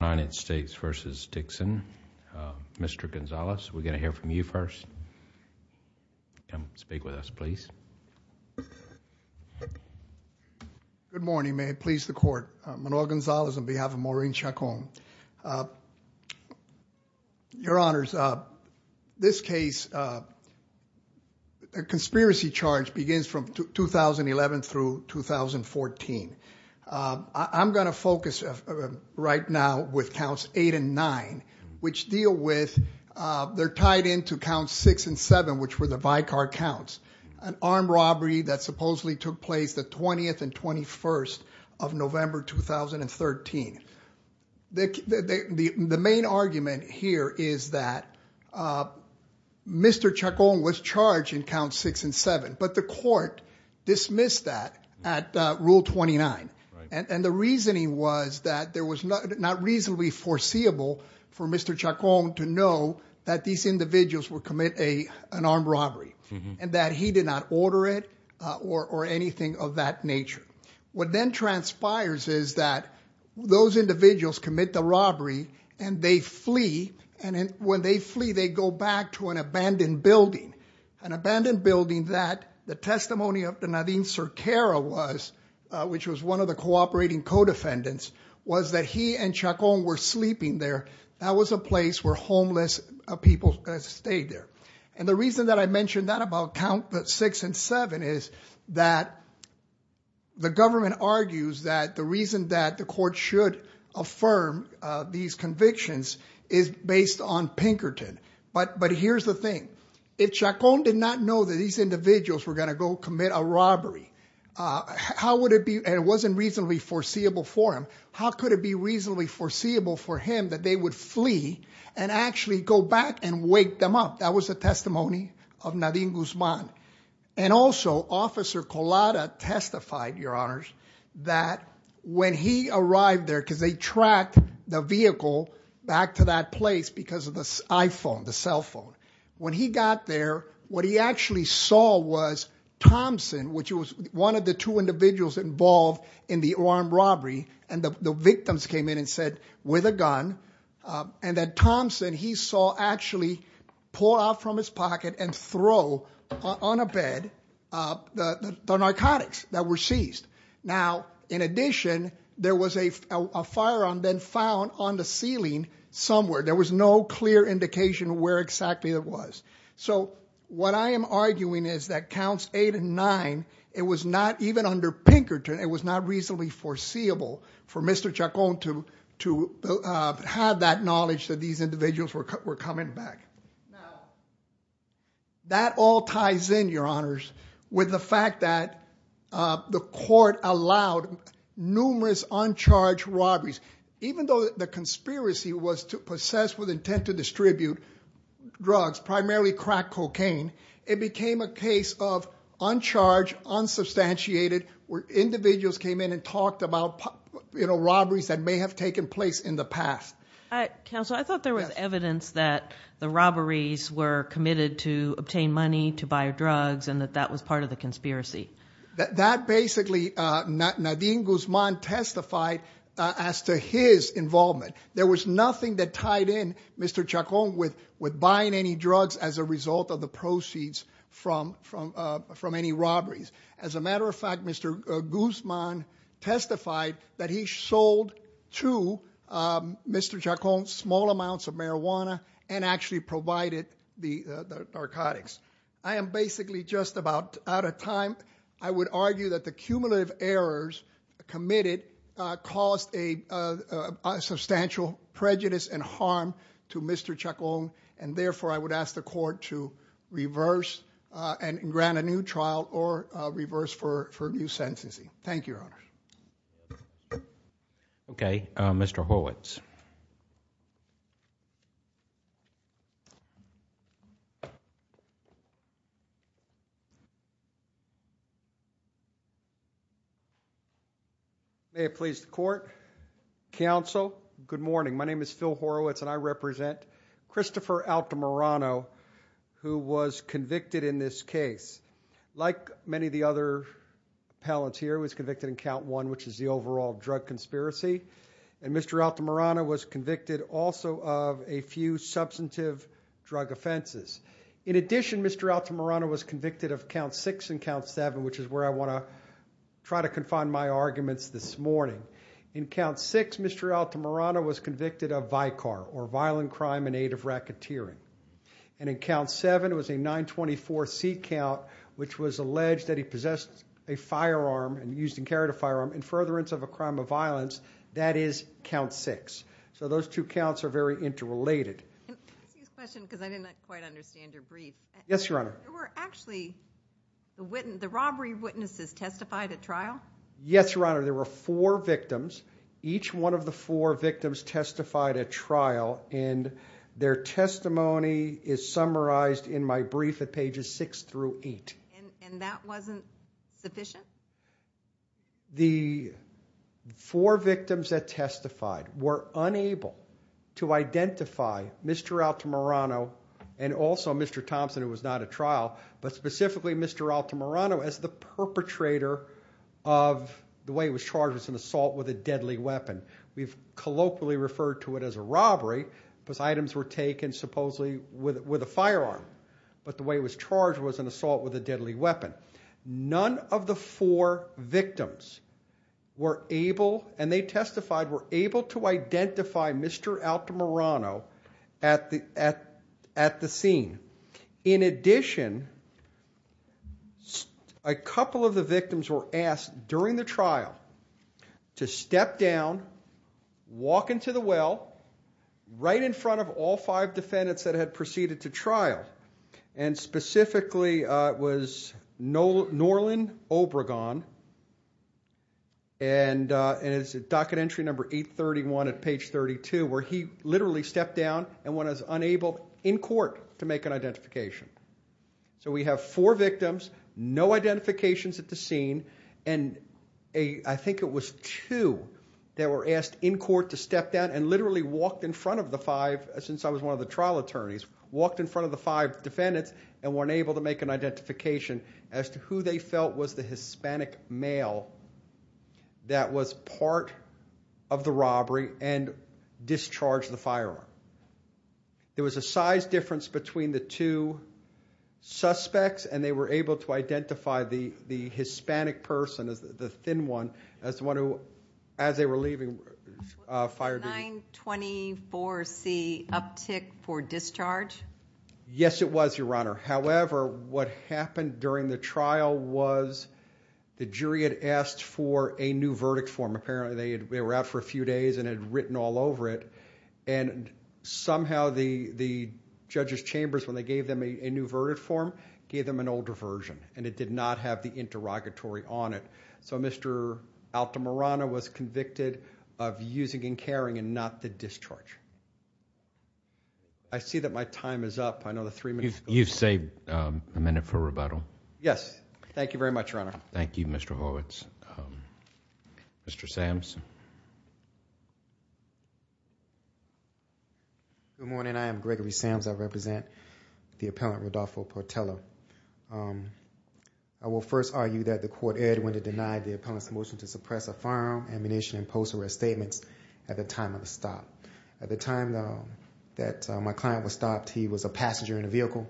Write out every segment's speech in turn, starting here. United States v. Dixon, Mr. Gonzales, we're going to hear from you first and speak with us, please. Good morning, may it please the court. Manuel Gonzales on behalf of Maureen Chacon. Your honors, this case, a conspiracy charge begins from 2011 through 2014. I'm going to focus right now with counts eight and nine, which deal with, they're tied into counts six and seven, which were the Vicar counts, an armed robbery that supposedly took place the 20th and 21st of November 2013. The main argument here is that Mr. Chacon was charged in count six and seven, but the court dismissed that at rule 29. And the reasoning was that there was not reasonably foreseeable for Mr. Chacon to know that these individuals would commit an armed robbery and that he did not order it or anything of that nature. What then transpires is that those individuals commit the robbery and they flee. And when they flee, they go back to an abandoned building. An abandoned building that the testimony of the Nadine Cerquera was, which was one of the cooperating co-defendants, was that he and Chacon were sleeping there. That was a place where homeless people stayed there. And the reason that I mentioned that about count six and seven is that the government argues that the reason that the court should affirm these convictions is based on if Chacon did not know that these individuals were going to go commit a robbery, how would it be, and it wasn't reasonably foreseeable for him, how could it be reasonably foreseeable for him that they would flee and actually go back and wake them up? That was a testimony of Nadine Guzman. And also, Officer Collada testified, Your Honors, that when he arrived there, because they tracked the vehicle back to that place because of the iPhone, the what he actually saw was Thompson, which was one of the two individuals involved in the armed robbery, and the victims came in and said, with a gun, and that Thompson, he saw actually pull out from his pocket and throw on a bed the narcotics that were seized. Now, in addition, there was a firearm then found on the ceiling somewhere. There was no clear indication where exactly it was. So what I am arguing is that counts eight and nine, it was not even under Pinkerton, it was not reasonably foreseeable for Mr. Chacon to have that knowledge that these individuals were coming back. Now, that all ties in, Your Honors, with the fact that the court allowed numerous uncharged robberies, even though the conspiracy was to possess with intent to drugs, primarily crack cocaine, it became a case of uncharged, unsubstantiated, where individuals came in and talked about, you know, robberies that may have taken place in the past. Counsel, I thought there was evidence that the robberies were committed to obtain money, to buy drugs, and that that was part of the conspiracy. That basically, Nadine Guzman testified as to his involvement. There was nothing that tied in Mr. Chacon with buying any drugs as a result of the proceeds from any robberies. As a matter of fact, Mr. Guzman testified that he sold to Mr. Chacon small amounts of marijuana and actually provided the narcotics. I am basically just about out of time. I would argue that the cumulative errors committed caused a substantial prejudice and harm to Mr. Chacon, and therefore, I would ask the court to reverse and grant a new trial or reverse for new sentencing. Thank you, Your Honors. Okay, Mr. Horwitz. May it please the court. Counsel, good morning. My name is Phil Horwitz, and I represent Christopher Altamirano, who was convicted in this case. Like many of the other appellants here, he was convicted in count one, which is the overall drug conspiracy, and Mr. Altamirano was convicted also of a few substantive drug offenses. In addition, Mr. Altamirano was convicted of count six and count seven, which is where I want to try to confine my arguments this morning. In count six, Mr. Altamirano was convicted of VICAR, or violent crime in aid of racketeering. And in count seven, it was a 924 seat count, which was alleged that he possessed a firearm and used and carried a firearm in furtherance of a crime of violence. That is count six. So those two counts are very interrelated. Excuse the question, because I didn't quite understand your brief. Yes, Your Honor. There were actually, the robbery witnesses testified at trial? Yes, Your Honor. There were four victims. Each one of the four victims testified at trial, and their testimony is summarized in my brief at pages six through eight. And that wasn't sufficient? No. The four victims that testified were unable to identify Mr. Altamirano and also Mr. Thompson, who was not at trial, but specifically Mr. Altamirano as the perpetrator of the way he was charged as an assault with a deadly weapon. We've colloquially referred to it as a robbery, because items were taken supposedly with a firearm. But the way he was charged was an assault with a deadly weapon. So those four victims were able, and they testified, were able to identify Mr. Altamirano at the scene. In addition, a couple of the victims were asked during the trial to step down, walk into the well, right in front of all five defendants that had proceeded to trial, and specifically it was Norlin Obregon, and it's docket entry number 831 at page 32, where he literally stepped down and was unable, in court, to make an identification. So we have four victims, no identifications at the scene, and I think it was two that were asked in court to step down and literally walked in front of the five, since I was one of the trial attorneys, walked in front of the five defendants and weren't able to make an identification as to who they felt was the Hispanic male that was part of the robbery and discharged the firearm. There was a size difference between the two suspects, and they were able to identify the Hispanic person, the thin one, as the one who, as they were leaving fire duty. 924C, uptick for discharge? Yes, it was, Your Honor. However, what happened during the trial was the jury had asked for a new verdict form. Apparently, they were out for a few days and had written all over it, and somehow the judge's chambers, when they gave them a new verdict form, gave them an older version, and it did not have the interrogatory on it. So Mr. Altamirano was convicted of using carrying and not the discharge. I see that my time is up. I know the three minutes... You've saved a minute for rebuttal. Yes. Thank you very much, Your Honor. Thank you, Mr. Horwitz. Mr. Samms? Good morning. I am Gregory Samms. I represent the appellant Rodolfo Portello. I will first argue that the court erred when it denied the appellant's motion to suppress a firearm, ammunition, and post-arrest statements at the time of the stop. At the time that my client was stopped, he was a passenger in a vehicle,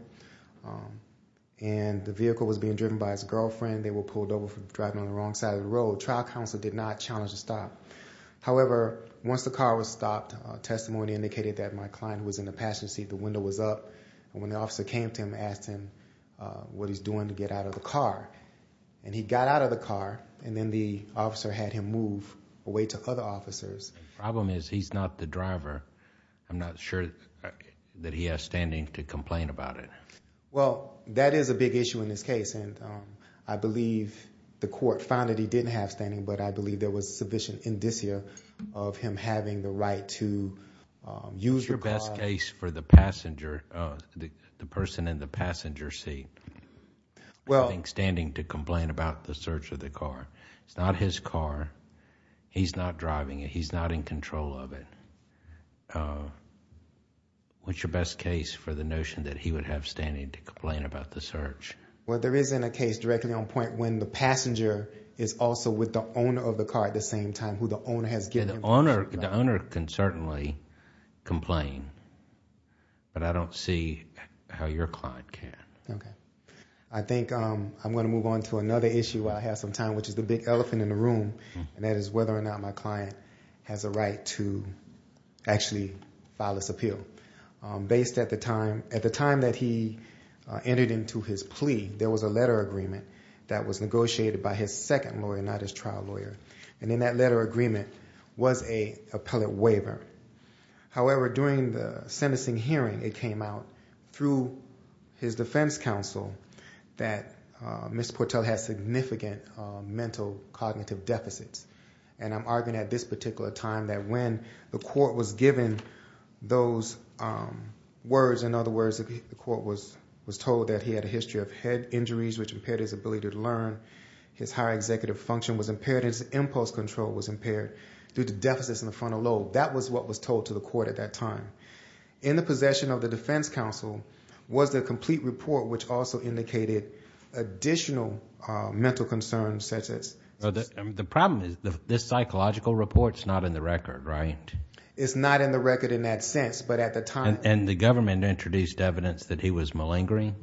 and the vehicle was being driven by his girlfriend. They were pulled over from driving on the wrong side of the road. Trial counsel did not challenge the stop. However, once the car was stopped, testimony indicated that my client was in the passenger seat. The window was up, and when the officer came to him and asked him what he's doing to the car, he got out of the car, and then the officer had him move away to other officers. Problem is, he's not the driver. I'm not sure that he has standing to complain about it. Well, that is a big issue in this case, and I believe the court found that he didn't have standing, but I believe there was sufficient indicia of him having the right to use the car. What's your best case for the passenger, the person in the passenger seat? Well, I think standing to complain about the search of the car. It's not his car. He's not driving it. He's not in control of it. What's your best case for the notion that he would have standing to complain about the search? Well, there isn't a case directly on point when the passenger is also with the owner of the car at the same time, who the owner has given him permission to. The owner can certainly complain, but I don't see how your client can. Okay. I think I'm going to move on to another issue while I have some time, which is the big elephant in the room, and that is whether or not my client has a right to actually file this appeal. At the time that he entered into his plea, there was a letter agreement that was negotiated by his second lawyer, not his trial lawyer, and in that letter agreement was a appellate waiver. However, during the sentencing hearing, it came out through his defense counsel that Mr. Portel has significant mental cognitive deficits, and I'm arguing at this particular time that when the court was given those words, in other words, the court was told that he had a history of head injuries, which impaired his ability to learn. His higher executive function was impaired. His impulse control was impaired due to deficits in the frontal lobe. That was what was told to the court at that time. In the possession of the defense counsel was the complete report, which also indicated additional mental concerns. The problem is this psychological report's not in the record, right? It's not in the record in that sense, but at the time... And the government introduced evidence that he was malingering?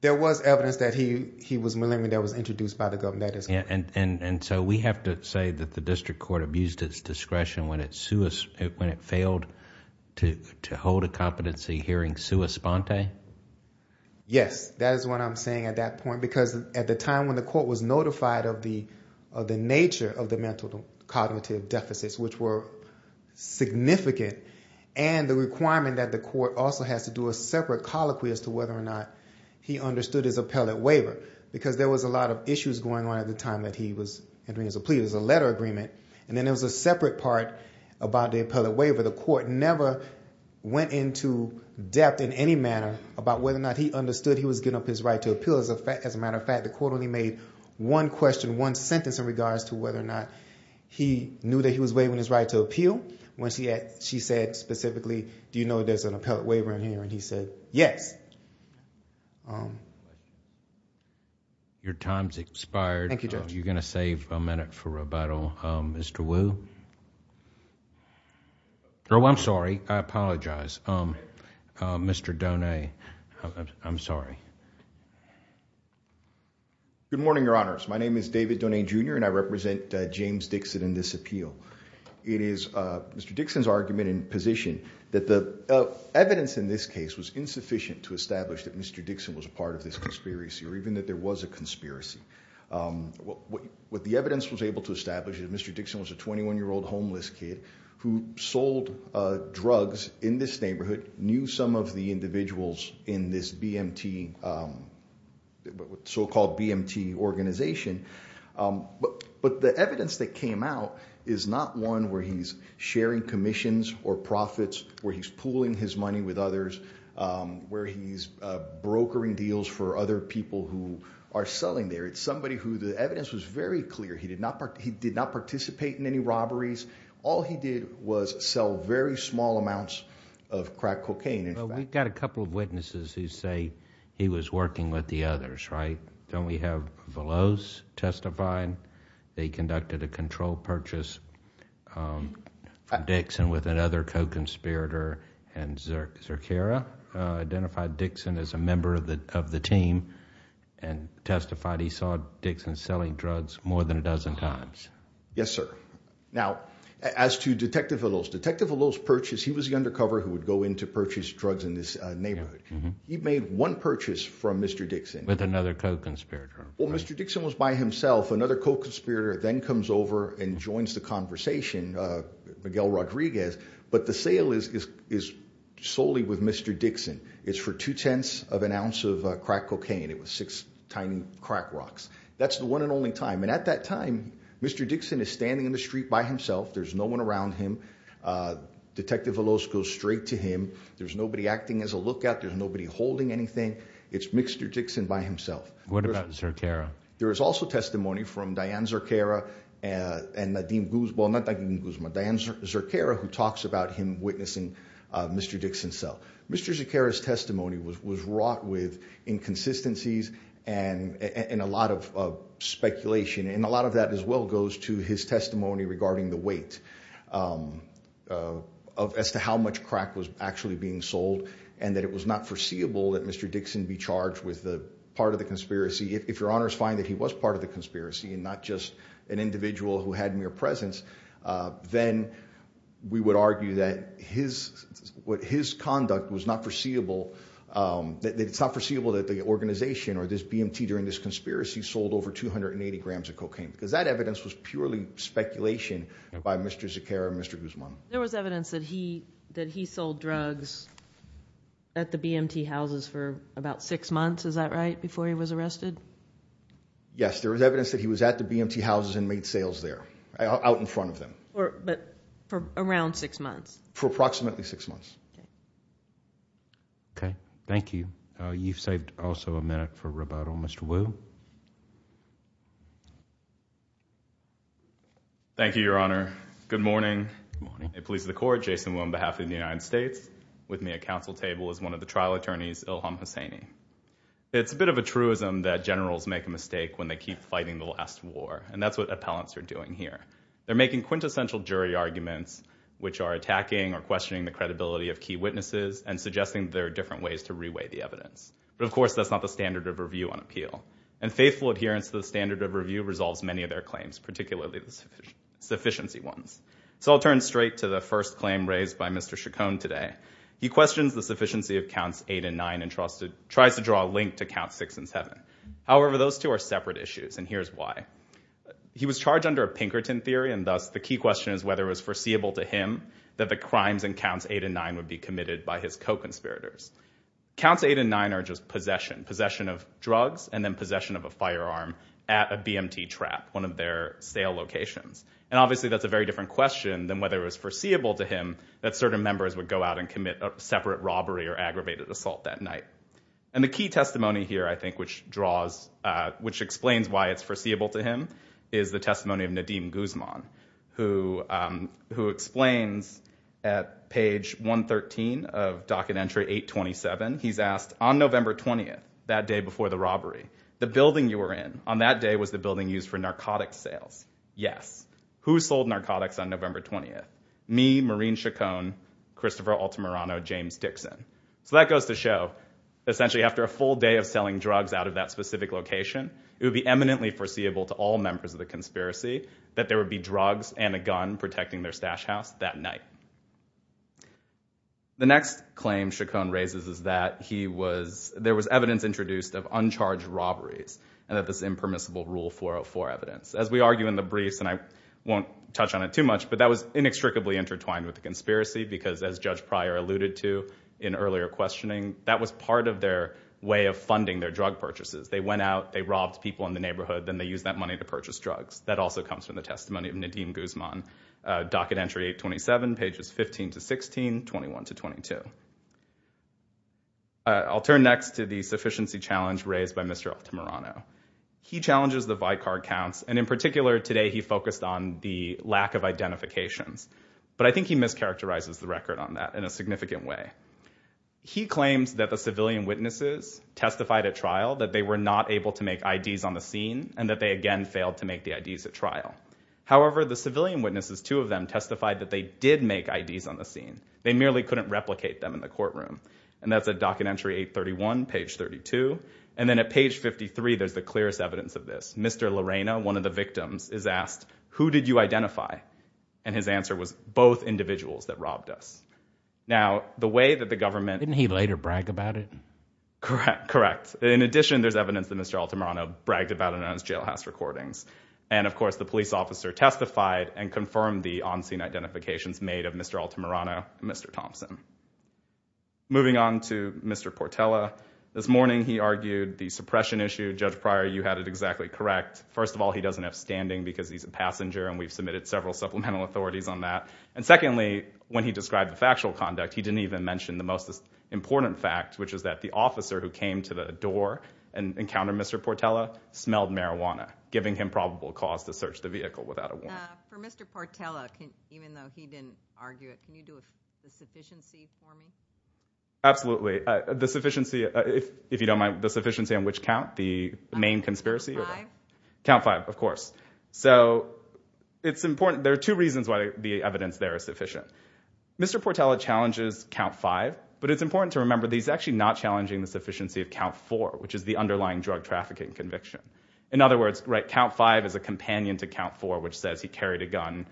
There was evidence that he was malingering that was introduced by the government. And so we have to say that the district court abused its discretion when it failed to hold a competency hearing sua sponte? Yes, that is what I'm saying at that point, because at the time when the court was notified of the nature of the mental cognitive deficits, which were significant, and the requirement that the court also has to do a separate colloquy as to whether or not he understood his appellate waiver, because there was a lot of issues going on at the time that he was entering his plea. There was a letter agreement, and then there was a separate part about the appellate waiver. The court never went into depth in any manner about whether or not he understood he was getting up his right to appeal. As a matter of fact, the court only made one question, one sentence in regards to whether or not he knew that he was waiving his right to appeal when she said specifically, do you know there's an appellate waiver in here? And he said, yes. Your time's expired. Thank you, Judge. You're going to save a minute for rebuttal. Mr. Wu? Oh, I'm sorry. I apologize. Mr. Donahue, I'm sorry. Good morning, Your Honors. My name is David Donahue, Jr., and I represent James Dixon and this appeal. It is Mr. Dixon's argument in position that the evidence in this case was insufficient to establish that Mr. Dixon was a part of this conspiracy, or even that there was a conspiracy. What the evidence was able to establish is Mr. Dixon was a 21-year-old homeless kid who sold drugs in this neighborhood, knew some of the individuals in this so-called BMT organization. But the evidence that came out is not one where he's sharing commissions or profits, where he's pooling his money with others, where he's brokering deals for other people who are selling there. It's somebody who the evidence was very clear. He did not participate in any robberies. All he did was sell very small amounts of crack cocaine. Well, we've got a couple of witnesses who say he was working with the others, right? Don't we have Veloz testifying? They conducted a control purchase. Dixon, with another co-conspirator and Zerchera, identified Dixon as a member of the team and testified he saw Dixon selling drugs more than a dozen times. Yes, sir. Now, as to Detective Veloz, Detective Veloz purchased, he was the undercover who would go in to purchase drugs in this neighborhood. He made one purchase from Mr. Dixon. With another co-conspirator. Well, Mr. Dixon was by himself. Another co-conspirator then comes over and joins the conversation, Miguel Rodriguez. But the sale is solely with Mr. Dixon. It's for two-tenths of an ounce of crack cocaine. It was six tiny crack rocks. That's the one and only time. And at that time, Mr. Dixon is standing in the street by himself. There's no one around him. Detective Veloz goes straight to him. There's nobody acting as a lookout. There's nobody holding anything. It's Mr. Dixon by himself. What about Zerchera? There is also testimony from Diane Zerchera and Nadine Guzman. Diane Zerchera, who talks about him witnessing Mr. Dixon sell. Mr. Zerchera's testimony was wrought with inconsistencies and a lot of speculation. And a lot of that as well goes to his testimony regarding the weight as to how much crack was actually being sold. And that it was not foreseeable that Mr. Dixon be charged with the part of the conspiracy. If your honors find that he was part of the conspiracy, that his conduct was not foreseeable, that it's not foreseeable that the organization or this BMT during this conspiracy sold over 280 grams of cocaine. Because that evidence was purely speculation by Mr. Zerchera and Mr. Guzman. There was evidence that he sold drugs at the BMT houses for about six months, is that right, before he was arrested? Yes, there was evidence that he was at the BMT houses and made sales there, out in front of them. But for around six months? For approximately six months. Okay, thank you. You've saved also a minute for rebuttal. Mr. Wu? Thank you, your honor. Good morning. I'm a police of the court, Jason Wu, on behalf of the United States. With me at council table is one of the trial attorneys, Ilham Hosseini. It's a bit of a truism that generals make a mistake when they keep fighting the last war. And that's what arguments which are attacking or questioning the credibility of key witnesses and suggesting there are different ways to reweigh the evidence. But of course, that's not the standard of review on appeal. And faithful adherence to the standard of review resolves many of their claims, particularly the sufficiency ones. So I'll turn straight to the first claim raised by Mr. Chacon today. He questions the sufficiency of counts eight and nine and tries to draw a link to count six and seven. However, those two are separate issues, and here's why. He was charged under Pinkerton theory, and thus the key question is whether it was foreseeable to him that the crimes in counts eight and nine would be committed by his co-conspirators. Counts eight and nine are just possession. Possession of drugs and then possession of a firearm at a BMT trap, one of their sale locations. And obviously, that's a very different question than whether it was foreseeable to him that certain members would go out and commit a separate robbery or aggravated assault that night. And the key testimony here, I think, which draws, which explains why it's foreseeable to him, is the testimony of Nadeem Guzman, who explains at page 113 of docket entry 827, he's asked, on November 20th, that day before the robbery, the building you were in, on that day was the building used for narcotics sales. Yes. Who sold narcotics on November 20th? Me, Maureen Chacon, Christopher Altamirano, James Dixon. So that goes to show, essentially, after a full day of selling to all members of the conspiracy, that there would be drugs and a gun protecting their stash house that night. The next claim Chacon raises is that there was evidence introduced of uncharged robberies and that this impermissible Rule 404 evidence. As we argue in the briefs, and I won't touch on it too much, but that was inextricably intertwined with the conspiracy because, as Judge Pryor alluded to in earlier questioning, that was part of their way of funding their drug purchases. They went out, they robbed people in the neighborhood, then they used that money to purchase drugs. That also comes from the testimony of Nadeem Guzman, docket entry 827, pages 15 to 16, 21 to 22. I'll turn next to the sufficiency challenge raised by Mr. Altamirano. He challenges the vicar counts, and in particular, today, he focused on the lack of identifications. But I think he mischaracterizes the record on that in a significant way. He claims that the civilian were not able to make IDs on the scene and that they again failed to make the IDs at trial. However, the civilian witnesses, two of them, testified that they did make IDs on the scene. They merely couldn't replicate them in the courtroom. And that's at docket entry 831, page 32. And then at page 53, there's the clearest evidence of this. Mr. Lorena, one of the victims, is asked, who did you identify? And his answer was, both individuals that robbed us. Now, the way that government... Didn't he later brag about it? Correct. Correct. In addition, there's evidence that Mr. Altamirano bragged about it on his jailhouse recordings. And of course, the police officer testified and confirmed the on-scene identifications made of Mr. Altamirano and Mr. Thompson. Moving on to Mr. Portella. This morning, he argued the suppression issue. Judge Pryor, you had it exactly correct. First of all, he doesn't have standing because he's a passenger, and we've submitted several supplemental authorities on that. And secondly, when he important fact, which is that the officer who came to the door and encountered Mr. Portella, smelled marijuana, giving him probable cause to search the vehicle without a warrant. For Mr. Portella, even though he didn't argue it, can you do a sufficiency for me? Absolutely. The sufficiency, if you don't mind, the sufficiency on which count? The main conspiracy? Count five. Count five, of course. So, it's important. There are two reasons why the evidence there is important to remember. He's actually not challenging the sufficiency of count four, which is the underlying drug trafficking conviction. In other words, count five is a companion to count four, which says he carried a gun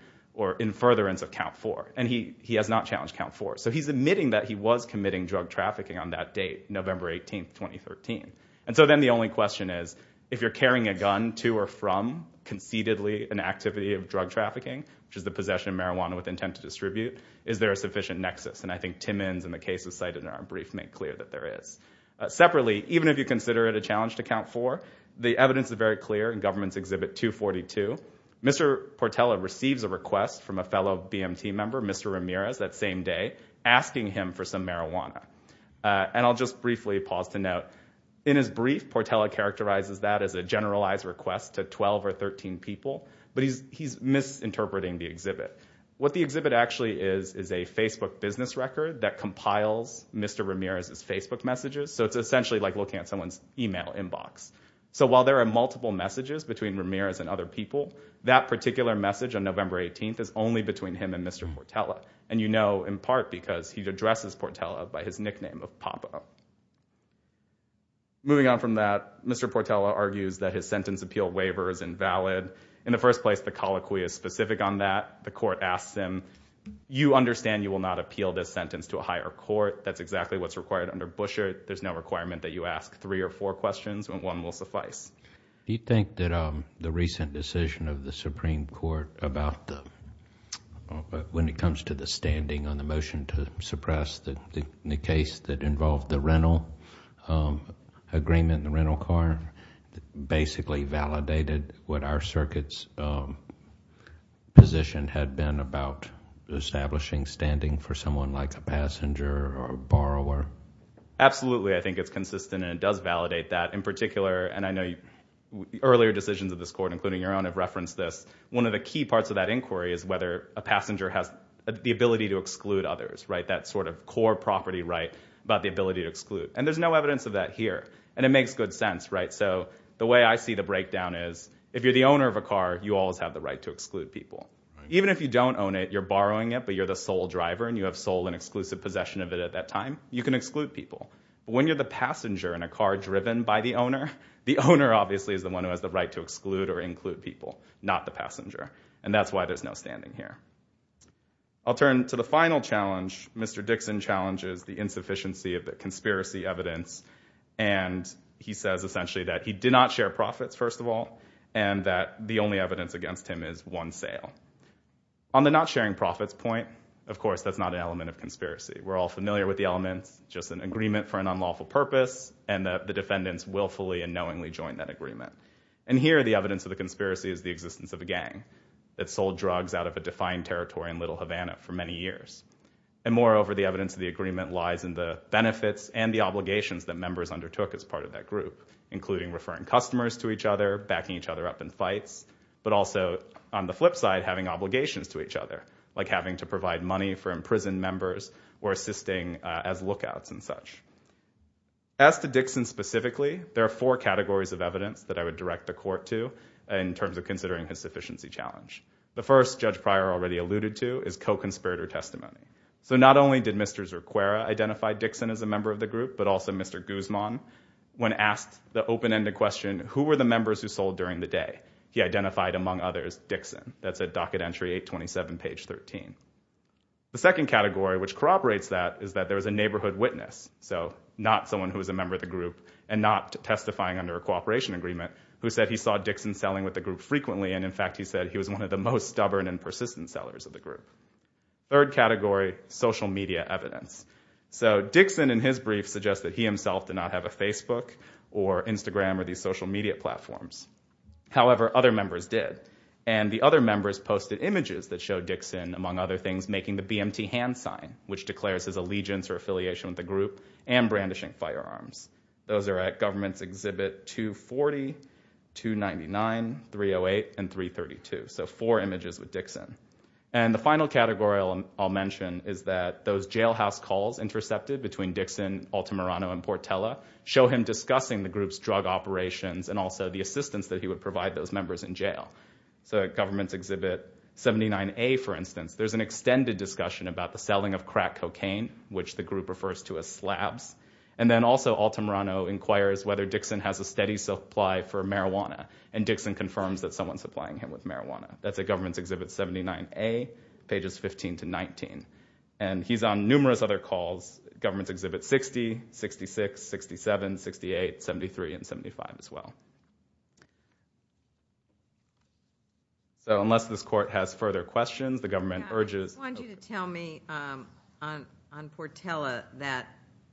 in furtherance of count four. And he has not challenged count four. So, he's admitting that he was committing drug trafficking on that date, November 18th, 2013. And so, then the only question is, if you're carrying a gun to or from concededly an activity of drug trafficking, which is the possession of marijuana with intent to in our brief, make clear that there is. Separately, even if you consider it a challenge to count four, the evidence is very clear in Government's Exhibit 242. Mr. Portella receives a request from a fellow BMT member, Mr. Ramirez, that same day, asking him for some marijuana. And I'll just briefly pause to note, in his brief, Portella characterizes that as a generalized request to 12 or 13 people, but he's misinterpreting the exhibit. What the exhibit actually is, is a Facebook business record that compiles Mr. Ramirez's Facebook messages. So, it's essentially like looking at someone's email inbox. So, while there are multiple messages between Ramirez and other people, that particular message on November 18th is only between him and Mr. Portella. And you know, in part, because he addresses Portella by his nickname of Papa. Moving on from that, Mr. Portella argues that his sentence appeal waiver is invalid. In the first place, the colloquy is specific on that. The court asks him, you understand you will not appeal this sentence to a higher court. That's exactly what's required under Busher. There's no requirement that you ask three or four questions and one will suffice. Do you think that the recent decision of the Supreme Court about the, when it comes to the standing on the motion to suppress the case that involved the rental agreement in the rental car, basically validated what our circuit's position had been about establishing standing for someone like a passenger or a borrower? Absolutely. I think it's consistent and it does validate that. In particular, and I know earlier decisions of this court, including your own, have referenced this. One of the key parts of that inquiry is whether a passenger has the ability to exclude others, right? That sort of property right about the ability to exclude. And there's no evidence of that here. And it makes good sense, right? So the way I see the breakdown is, if you're the owner of a car, you always have the right to exclude people. Even if you don't own it, you're borrowing it, but you're the sole driver and you have sole and exclusive possession of it at that time, you can exclude people. When you're the passenger in a car driven by the owner, the owner obviously is the one who has the right to exclude or include people, not the passenger. And that's why there's no standing here. I'll turn to the final challenge. Mr. Dixon challenges the insufficiency of the conspiracy evidence. And he says essentially that he did not share profits, first of all, and that the only evidence against him is one sale. On the not sharing profits point, of course, that's not an element of conspiracy. We're all familiar with the elements, just an agreement for an unlawful purpose and the defendants willfully and knowingly joined that agreement. And here, the evidence of the conspiracy is the existence of a gang that sold drugs out of a defined territory in Little Havana for many years. And moreover, the evidence of the agreement lies in the benefits and the obligations that members undertook as part of that group, including referring customers to each other, backing each other up in fights, but also on the flip side, having obligations to each other, like having to provide money for imprisoned members or assisting as lookouts and such. As to Dixon specifically, there are four categories of evidence that I would direct the court to in terms of considering his sufficiency challenge. The first, Judge Pryor already alluded to, is co-conspirator testimony. So not only did Mr. Zerquera identify Dixon as a member of the group, but also Mr. Guzman, when asked the open-ended question, who were the members who sold during the day? He identified, among others, Dixon. That's at docket entry 827, page 13. The second category, which corroborates that, is that there was a neighborhood witness, so not someone who was a member of the group and not testifying under a cooperation agreement, who said he saw Dixon selling with the group frequently. And in fact, he said he was one of the most stubborn and persistent sellers of the group. Third category, social media evidence. So Dixon, in his brief, suggests that he himself did not have a Facebook or Instagram or these social media platforms. However, other members did. And the other members posted images that showed Dixon, among other things, making the BMT hand sign, which declares his allegiance or affiliation with the group, and brandishing firearms. Those are at Government's Exhibit 240, 299, 308, and 332. So four images with Dixon. And the final category I'll mention is that those jailhouse calls intercepted between Dixon, Altamirano, and Portella show him discussing the group's drug operations and also the assistance that he would provide those members in jail. So at Government's Exhibit 79A, for instance, there's an extended discussion about the selling of crack cocaine, which the group refers to as slabs. And then also Altamirano inquires whether Dixon has a steady supply for marijuana. And Dixon confirms that someone's supplying him with marijuana. That's at Government's Exhibit 79A, pages 15 to 19. And he's on numerous other calls, Government's Exhibit 60, 66, 67, 68, 73, and 75 as well. So unless this court has further questions, the government urges- I just wanted you to tell me on Portella that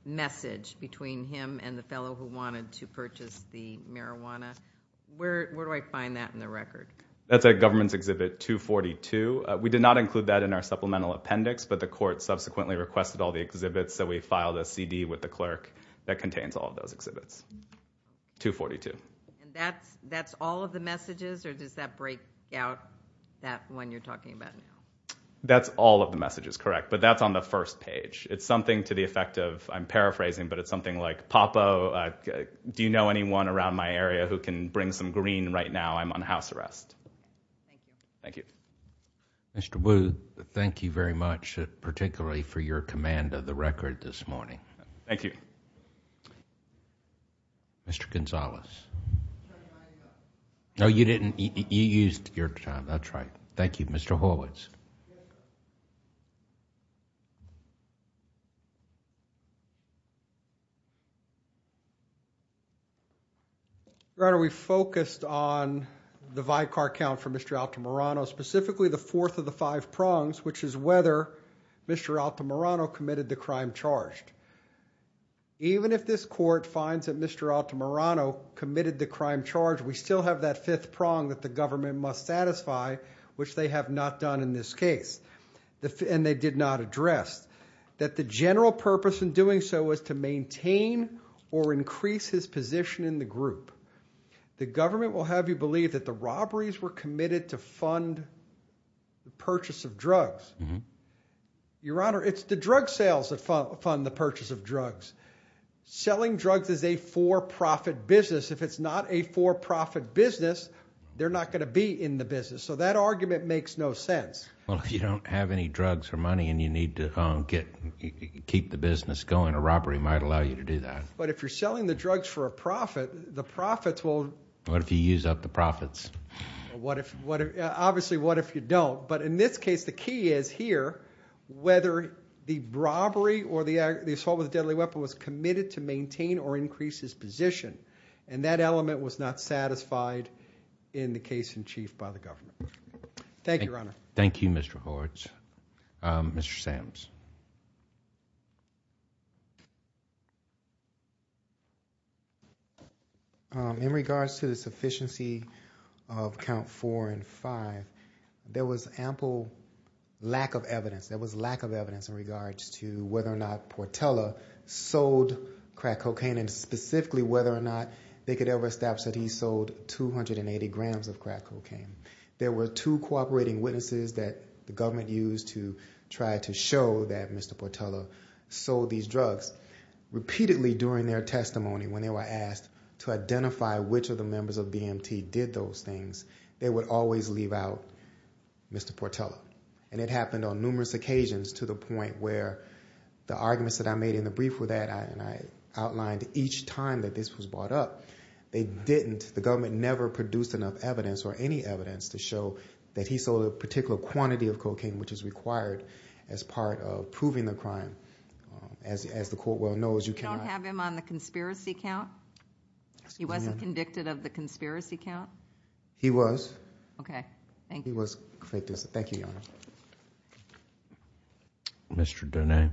message between him and the fellow who wanted to purchase the marijuana. Where do I find that in the record? That's at Government's Exhibit 242. We did not include that in our supplemental appendix, but the court subsequently requested all the exhibits, so we filed a CD with the clerk that contains all of those exhibits. 242. That's all of the messages, or does that break out, that one you're talking about now? That's all of the messages, correct. But that's on the first page. It's something to the effect of- I'm paraphrasing, but it's something like, Papa, do you know anyone around my area who can bring some green right now? I'm on house arrest. Thank you. Thank you. Mr. Booth, thank you very much, particularly for your command of the record this morning. Thank you. Mr. Gonzalez. No, you didn't- you used your time, that's right. Thank you. Mr. Horwitz. Your Honor, we focused on the Vicar count for Mr. Altamirano, specifically the fourth of the five prongs, which is whether Mr. Altamirano committed the crime charged. Even if this court finds that Mr. Altamirano committed the crime charged, we still have that fifth prong that the government must satisfy, which they have not done in this case, and they did not address, that the general purpose in doing so was to maintain or increase his position in the group. The government will have you believe that the robberies were committed to fund the purchase of drugs. Your Honor, it's the drug sales that fund the purchase of drugs. Selling drugs is a for-profit business. If it's not a for-profit business, they're not going to be in the business, so that argument makes no sense. Well, if you don't have any drugs or money and you need to keep the business going, a robbery might allow you to do that. But if you're selling the drugs for a profit, the profits will- What if you use up the profits? Obviously, what if you don't? But in this case, the key is here, whether the robbery or the assault with a deadly weapon was committed to maintain or increase his position, and that element was not satisfied in the case in chief by the government. Thank you, Your Honor. Thank you, Mr. Hortz. Mr. Sams. In regards to the sufficiency of Count 4 and 5, there was ample lack of evidence. There was lack of evidence in regards to whether or not Portela sold crack cocaine, and specifically whether or not they could ever establish that he sold 280 grams of crack cocaine. There were two cooperating witnesses that the government used to try to show that Mr. Portela sold these drugs. Repeatedly during their testimony, when they were asked to identify which of the members of BMT did those things, they would always leave out Mr. Portela. And it happened on numerous occasions to the point where the arguments that I made in the brief were that, and I outlined each time that this was brought up, they didn't, the government never produced enough evidence or any evidence to show that he sold a particular quantity of cocaine which is required as part of proving the crime. As the Court well knows, you cannot... You don't have him on the conspiracy count? He wasn't convicted of the conspiracy count? He was. Okay. Thank you. He was convicted. Thank you, Your Honor. Mr. Donne.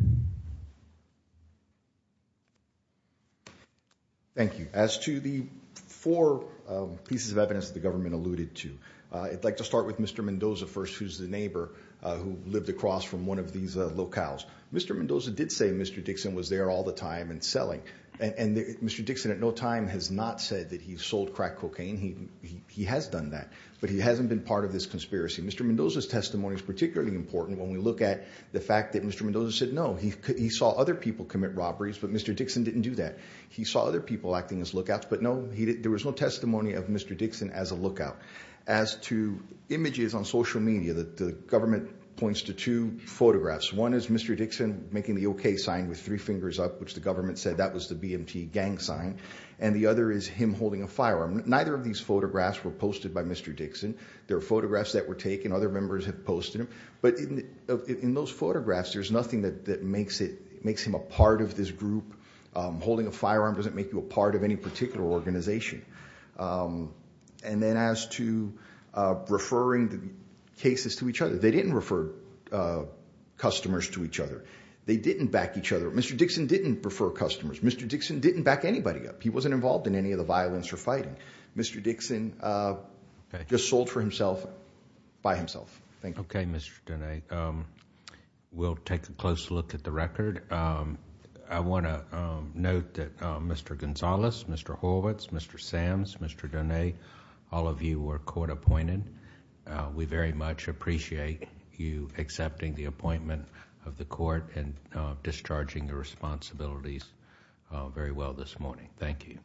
Thank you. As to the four pieces of evidence the government alluded to, I'd like to start with Mr. Mendoza first, who's the neighbor who lived across from one of these locales. Mr. Mendoza did say Mr. Dixon was there all the time and selling, and Mr. Dixon at no time has not said that he sold crack cocaine. He has done that, but he hasn't been part of this conspiracy. Mr. Mendoza's testimony is particularly important when we look at the fact that Mr. Mendoza said no. He saw other people commit robberies, but Mr. Dixon didn't do that. He saw other people acting as lookouts, but no, there was no testimony of Mr. Dixon as a lookout. As to images on social media, the government points to two photographs. One is Mr. Dixon making the okay sign with three fingers up, which the government said that was the BMT gang sign, and the other is him holding a firearm. Neither of these photographs were posted by Mr. Dixon. There are photographs that were taken, other members have posted them, but in those photographs, there's nothing that makes him a part of this group. Holding a firearm doesn't make you a part of any particular organization. And then as to referring the cases to each other, they didn't refer customers to each other. They didn't back each other. Mr. Dixon didn't refer customers. Mr. Dixon didn't back anybody up. He wasn't involved in any of the violence or fighting. Mr. Dixon just sold for himself by himself. Thank you. Okay, Mr. Donnay. We'll take a close look at the record. I want to note that Mr. Gonzalez, Mr. Horwitz, Mr. Sams, Mr. Donnay, all of you were court appointed. We very much appreciate you accepting the appointment of the court and discharging your responsibilities very well this morning. Thank you.